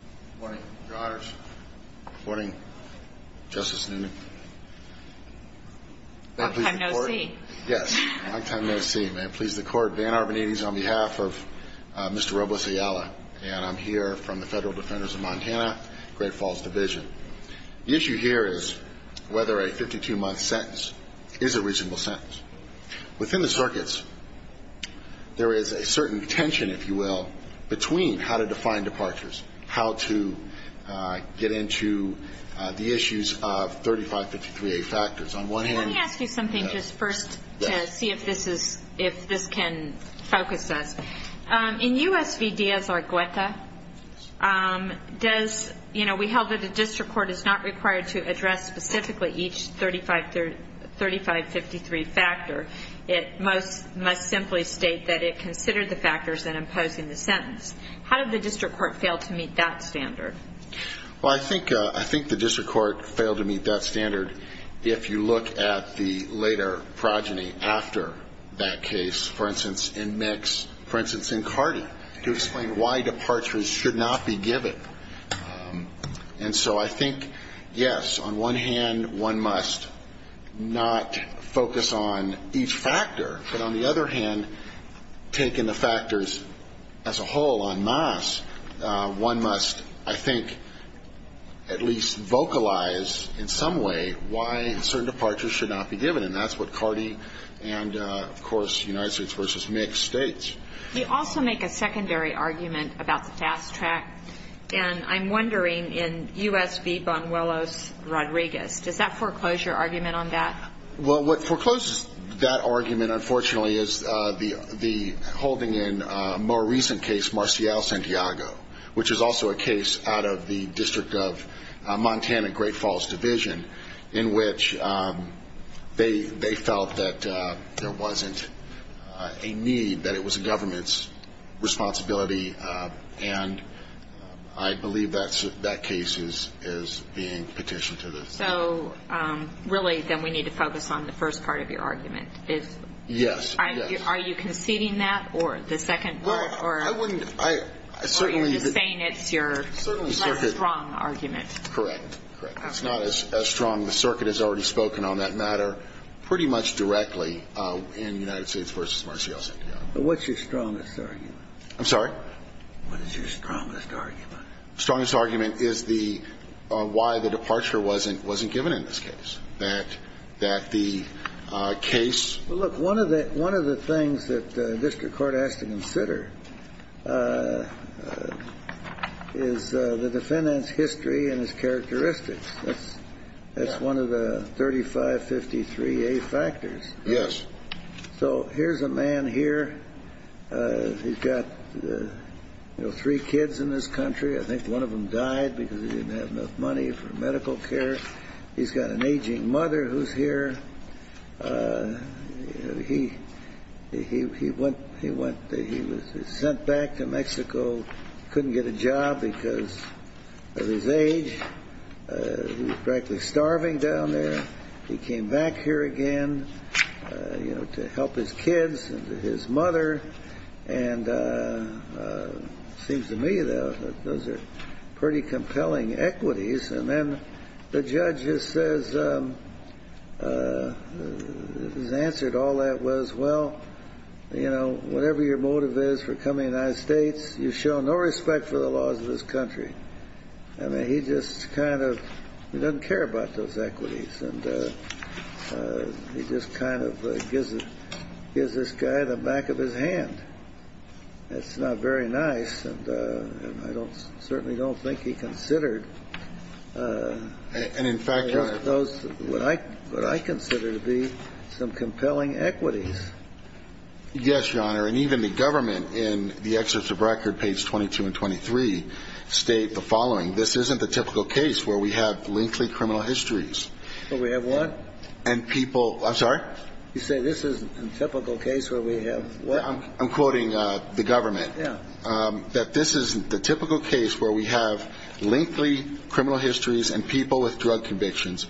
Good morning, Your Honors. Good morning, Justice Newman. Long time, no see. Yes, long time, no see. May it please the Court, Van Arbonides on behalf of Mr. Robles-Ayala, and I'm here from the Federal Defenders of Montana, Great Falls Division. The issue here is whether a 52-month sentence is a reasonable sentence. Within the circuits, there is a certain tension, if you will, between how to define departures, how to get into the issues of 3553A factors. Let me ask you something just first to see if this can focus us. In U.S. v. Diaz Argueta, we held that a district court is not required to address specifically each 3553 factor. It must simply state that it considered the factors in imposing the sentence. How did the district court fail to meet that standard? Well, I think the district court failed to meet that standard if you look at the later progeny after that case, for instance, in Mix, for instance, in Carty, to explain why departures should not be given. And so I think, yes, on one hand, one must not focus on each factor, but on the other hand, taking the factors as a whole en masse, one must, I think, at least vocalize in some way why certain departures should not be given, and that's what Carty and, of course, United States v. Mix states. You also make a secondary argument about the fast track, and I'm wondering in U.S. v. Bonuelos-Rodriguez, does that foreclose your argument on that? Well, what forecloses that argument, unfortunately, is the holding in a more recent case, Marcial-Santiago, which is also a case out of the District of Montana Great Falls Division, in which they felt that there wasn't a need, that it was a government's responsibility, and I believe that case is being petitioned to the state. So really, then, we need to focus on the first part of your argument. Yes. Are you conceding that, or the second part, or are you just saying it's your less strong argument? Correct. It's not as strong. The circuit has already spoken on that matter pretty much directly in United States v. Marcial-Santiago. What's your strongest argument? I'm sorry? What is your strongest argument? My strongest argument is the why the departure wasn't given in this case, that the case ---- Look, one of the things that the district court has to consider is the defendant's history and his characteristics. That's one of the 3553A factors. Yes. So here's a man here who's got three kids in this country. I think one of them died because he didn't have enough money for medical care. He's got an aging mother who's here. He was sent back to Mexico, couldn't get a job because of his age. He was practically starving down there. He came back here again, you know, to help his kids and his mother. And it seems to me, though, that those are pretty compelling equities. And then the judge just says his answer to all that was, well, you know, whatever your motive is for coming to the United States, you show no respect for the laws of this country. I mean, he just kind of doesn't care about those equities, and he just kind of gives this guy the back of his hand. That's not very nice, and I don't ---- certainly don't think he considered those what I consider to be some compelling equities. Yes, Your Honor. And even the government in the excerpts of record, page 22 and 23, state the following. This isn't the typical case where we have lengthy criminal histories. Where we have what? And people ---- I'm sorry? You say this isn't a typical case where we have what? I'm quoting the government. Yeah. That this isn't the typical case where we have lengthy criminal histories and people with drug convictions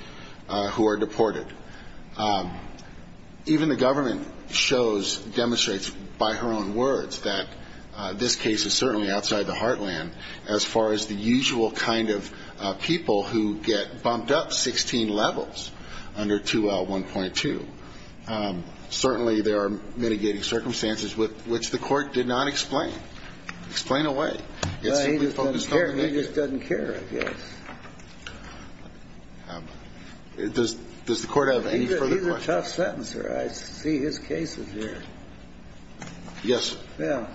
who are deported. Even the government shows, demonstrates by her own words that this case is certainly outside the heartland as far as the usual kind of people who get bumped up 16 levels under 2L1.2. Certainly there are mitigating circumstances which the Court did not explain. Explain away. It's simply focused on the negative. He just doesn't care. He just doesn't care, I guess. Does the Court have any further questions? He's a tough sentencer. I see his cases here. Yes, sir. Yeah.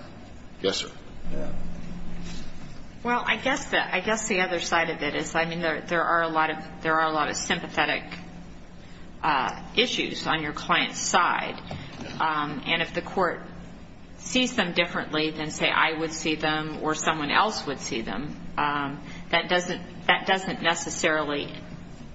Yes, sir. Yeah. Well, I guess the other side of it is, I mean, there are a lot of sympathetic issues on your client's side. And if the Court sees them differently than, say, I would see them or someone else would see them, that doesn't necessarily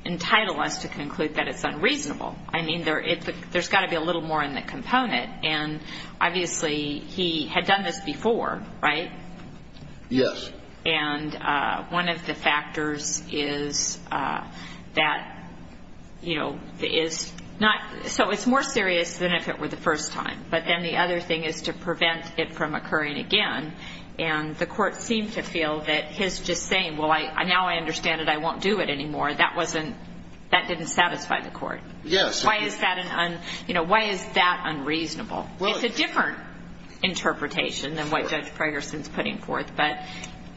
entitle us to conclude that it's unreasonable. I mean, there's got to be a little more in the component. And obviously he had done this before, right? Yes. And one of the factors is that, you know, is not so it's more serious than if it were the first time. But then the other thing is to prevent it from occurring again. And the Court seemed to feel that his just saying, well, now I understand it, I won't do it anymore, that didn't satisfy the Court. Yes. Why is that unreasonable? It's a different interpretation than what Judge Pregerson is putting forth. But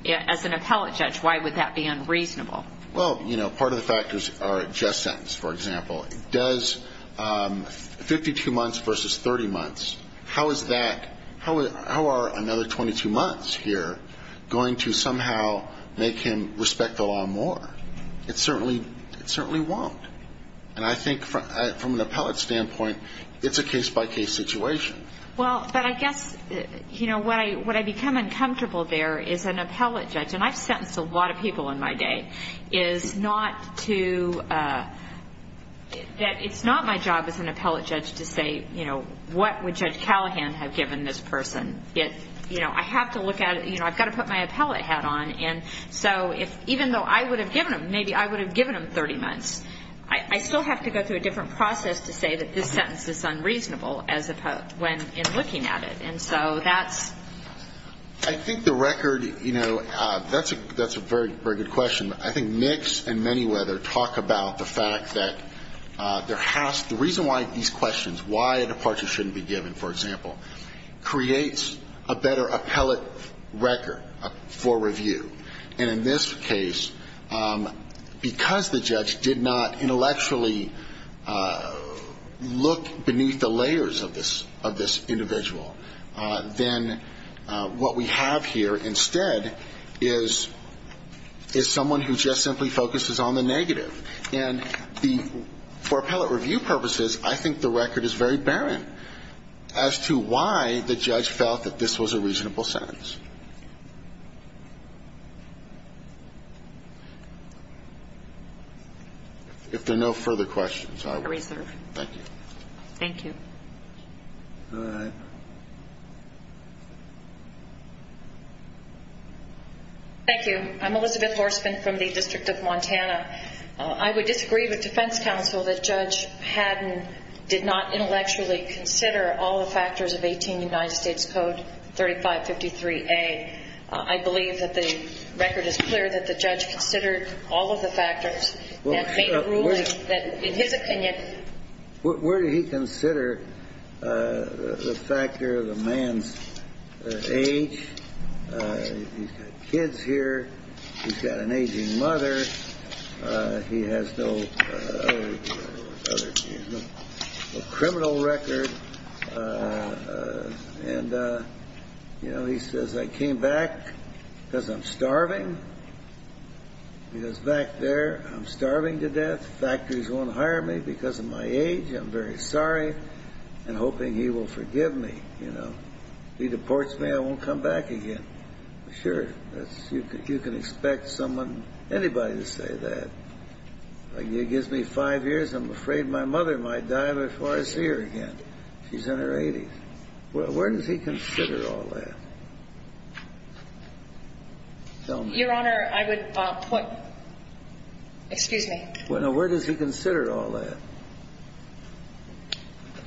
as an appellate judge, why would that be unreasonable? Well, you know, part of the factors are a just sentence, for example. Does 52 months versus 30 months, how is that, how are another 22 months here going to somehow make him respect the law more? It certainly won't. And I think from an appellate standpoint, it's a case-by-case situation. Well, but I guess, you know, what I become uncomfortable there is an appellate judge, and I've sentenced a lot of people in my day, is not to, that it's not my job as an appellate judge to say, you know, what would Judge Callahan have given this person? You know, I have to look at it, you know, I've got to put my appellate hat on. And so even though I would have given him, maybe I would have given him 30 months, I still have to go through a different process to say that this sentence is unreasonable when looking at it. And so that's. I think the record, you know, that's a very good question. I think Nix and Manyweather talk about the fact that there has to, the reason why these questions, why a departure shouldn't be given, for example, creates a better appellate record for review. And in this case, because the judge did not intellectually look beneath the layers of this individual, then what we have here instead is someone who just simply focuses on the negative. And for appellate review purposes, I think the record is very barren as to why the judge felt that this was a reasonable sentence. If there are no further questions, I will. I reserve. Thank you. Thank you. All right. Thank you. I'm Elizabeth Horstman from the District of Montana. I would disagree with defense counsel that Judge Haddon did not intellectually consider all the factors of 18 United States Code 3553A. I believe that the record is clear that the judge considered all of the factors and made a ruling that, in his opinion. Where did he consider the factor of the man's age? He's got kids here. He's got an aging mother. He has no criminal record. And, you know, he says, I came back because I'm starving. He goes back there. I'm starving to death. Factors won't hire me because of my age. I'm very sorry and hoping he will forgive me. You know, he deports me. I won't come back again. Sure. You can expect someone, anybody to say that. It gives me five years. I'm afraid my mother might die before I see her again. She's in her 80s. Where does he consider all that? Your Honor, I would point. Excuse me. Now, where does he consider all that?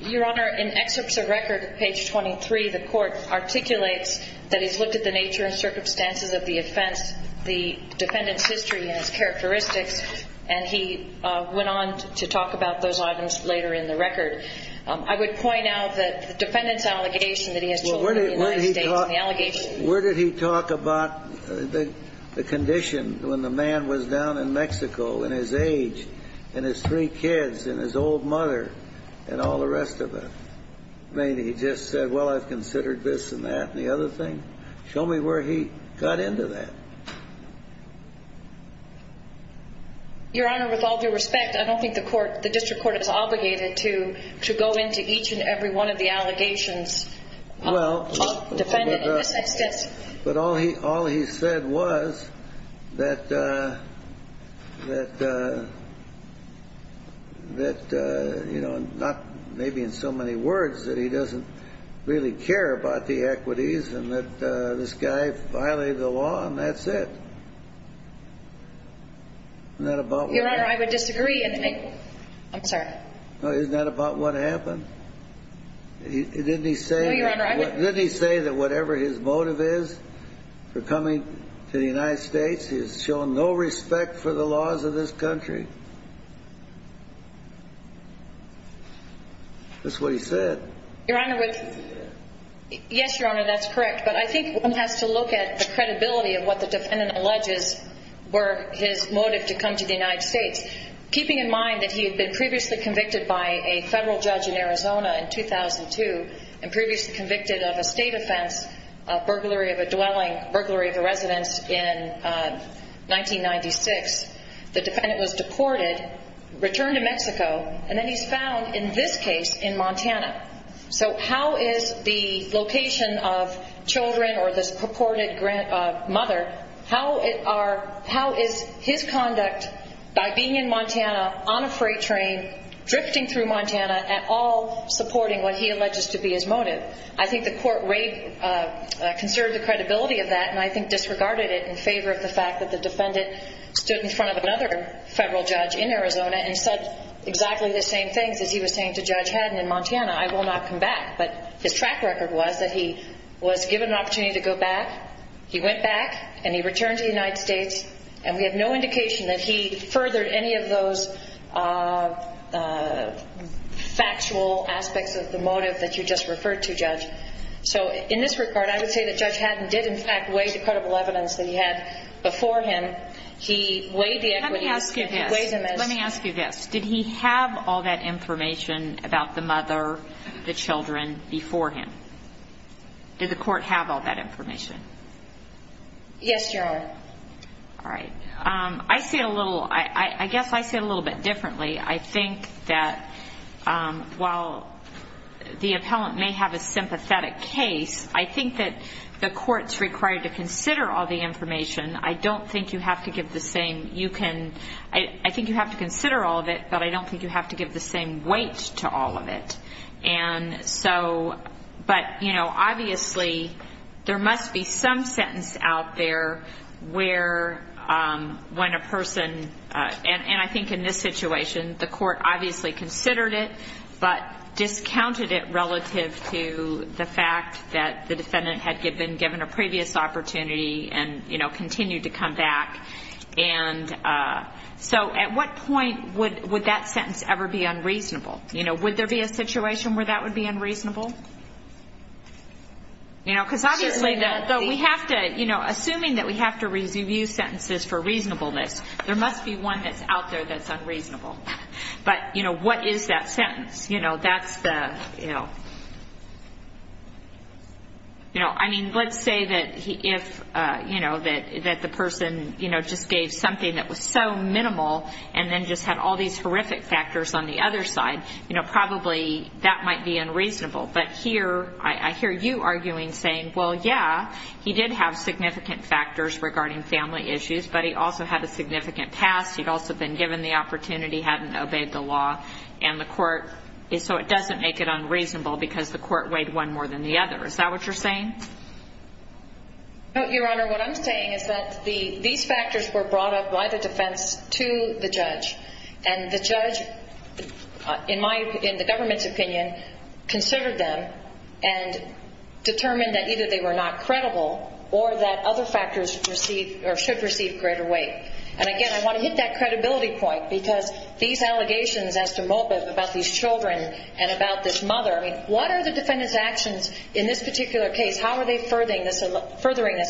Your Honor, in excerpts of record, page 23, the court articulates that he's looked at the nature and circumstances of the offense, the defendant's history and his characteristics, and he went on to talk about those items later in the record. I would point out that the defendant's allegation that he has children in the United States and the allegation. Where did he talk about the condition when the man was down in Mexico and his age and his three kids and his old mother and all the rest of it? Maybe he just said, well, I've considered this and that and the other thing. Show me where he got into that. Your Honor, with all due respect, I don't think the court, the district court is obligated to go into each and every one of the allegations. Well, but all he said was that, you know, maybe in so many words that he doesn't really care about the equities and that this guy violated the law and that's it. Isn't that about what happened? Your Honor, I would disagree. I'm sorry. Isn't that about what happened? Didn't he say that whatever his motive is for coming to the United States, he has shown no respect for the laws of this country? That's what he said. Your Honor, yes, Your Honor, that's correct. But I think one has to look at the credibility of what the defendant alleges were his motive to come to the United States, keeping in mind that he had been previously convicted by a federal judge in Arizona in 2002 and previously convicted of a state offense, burglary of a dwelling, burglary of a residence in 1996. The defendant was deported, returned to Mexico, and then he's found in this case in Montana. So how is the location of children or this purported mother, how is his conduct by being in Montana on a freight train, drifting through Montana, at all supporting what he alleges to be his motive? I think the court conserved the credibility of that and I think disregarded it in favor of the fact that the defendant stood in front of another federal judge in Arizona and said exactly the same things as he was saying to Judge Haddon in Montana, I will not come back. But his track record was that he was given an opportunity to go back, he went back, and he returned to the United States, and we have no indication that he furthered any of those factual aspects of the motive that you just referred to, Judge. So in this regard, I would say that Judge Haddon did in fact weigh the credible evidence that he had before him. Let me ask you this. Let me ask you this. Did he have all that information about the mother, the children before him? Did the court have all that information? Yes, Your Honor. All right. I say it a little, I guess I say it a little bit differently. I think that while the appellant may have a sympathetic case, I think that the court's required to consider all the information. I don't think you have to give the same, you can, I think you have to consider all of it, but I don't think you have to give the same weight to all of it. And so, but, you know, obviously there must be some sentence out there where when a person, and I think in this situation the court obviously considered it, but discounted it relative to the fact that the defendant had been given a previous opportunity and, you know, continued to come back. And so at what point would that sentence ever be unreasonable? You know, would there be a situation where that would be unreasonable? You know, because obviously we have to, you know, assuming that we have to review sentences for reasonableness, there must be one that's out there that's unreasonable. But, you know, what is that sentence? You know, that's the, you know, I mean, let's say that if, you know, that the person, you know, just gave something that was so minimal and then just had all these horrific factors on the other side, you know, probably that might be unreasonable. But here, I hear you arguing saying, well, yeah, he did have significant factors regarding family issues, but he also had a significant past, he'd also been given the opportunity, hadn't obeyed the law, and the court is so it doesn't make it unreasonable because the court weighed one more than the other. Is that what you're saying? No, Your Honor. What I'm saying is that these factors were brought up by the defense to the judge, and the judge, in the government's opinion, considered them and determined that either they were not credible or that other factors should receive greater weight. And again, I want to hit that credibility point because these allegations as to Mulpeth about these children and about this mother, I mean, what are the defendant's actions in this particular case? How are they furthering this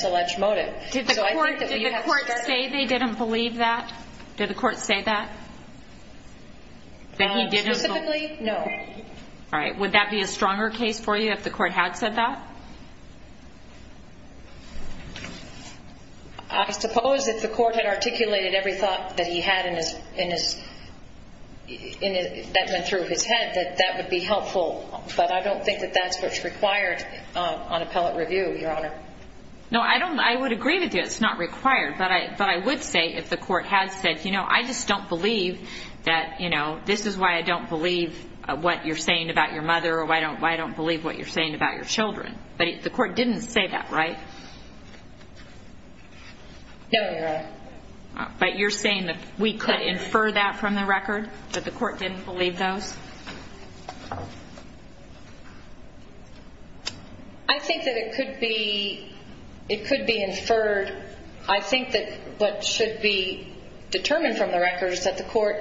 alleged motive? Did the court say they didn't believe that? Did the court say that? That he didn't believe? No. All right. Would that be a stronger case for you if the court had said that? I suppose if the court had articulated every thought that went through his head that that would be helpful, but I don't think that that's what's required on appellate review, Your Honor. No, I would agree with you. It's not required, but I would say if the court had said, you know, I just don't believe that, you know, this is why I don't believe what you're saying about your mother But the court didn't say that, right? No, Your Honor. But you're saying that we could infer that from the record, that the court didn't believe those? I think that it could be inferred. I think that what should be determined from the record is that the court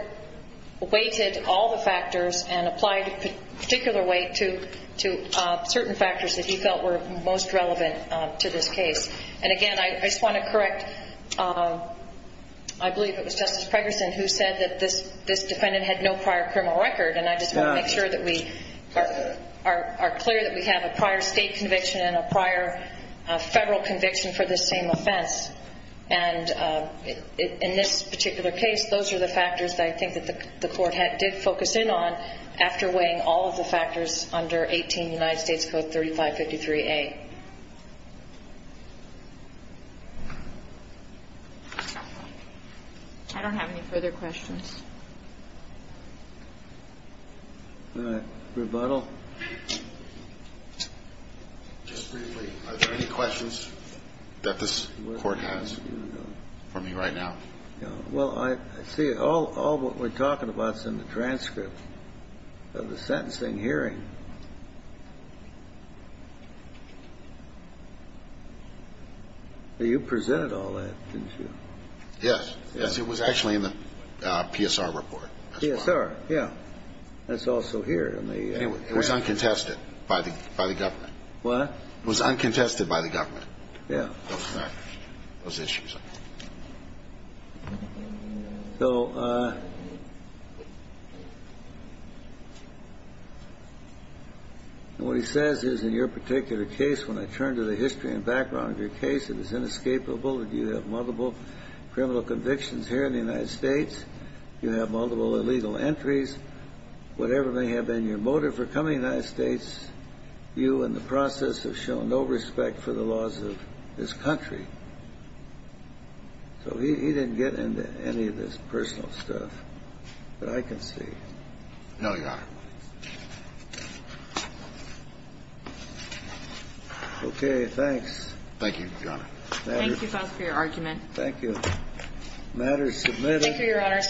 weighted all the factors and applied a particular weight to certain factors that he felt were most relevant to this case. And, again, I just want to correct, I believe it was Justice Pregerson who said that this defendant had no prior criminal record, and I just want to make sure that we are clear that we have a prior state conviction and a prior federal conviction for this same offense. And in this particular case, those are the factors that I think that the court did focus in on after weighing all of the factors under 18 United States Code 3553A. I don't have any further questions. All right. Rebuttal? Just briefly, are there any questions that this court has for me right now? Well, I see all what we're talking about is in the transcript of the sentencing hearing. You presented all that, didn't you? Yes. Yes, it was actually in the PSR report. PSR, yeah. That's also here. It was uncontested by the government. What? It was uncontested by the government. Yeah. Those issues. So what he says is in your particular case, when I turn to the history and background of your case, it is inescapable that you have multiple criminal convictions here in the United States, you have multiple illegal entries. Whatever may have been your motive for coming to the United States, you in the process have shown no respect for the laws of this country. So he didn't get into any of this personal stuff. But I can see. No, Your Honor. Okay. Thanks. Thank you, Your Honor. Thank you, counsel, for your argument. Thank you. Matter is submitted. Thank you, Your Honor.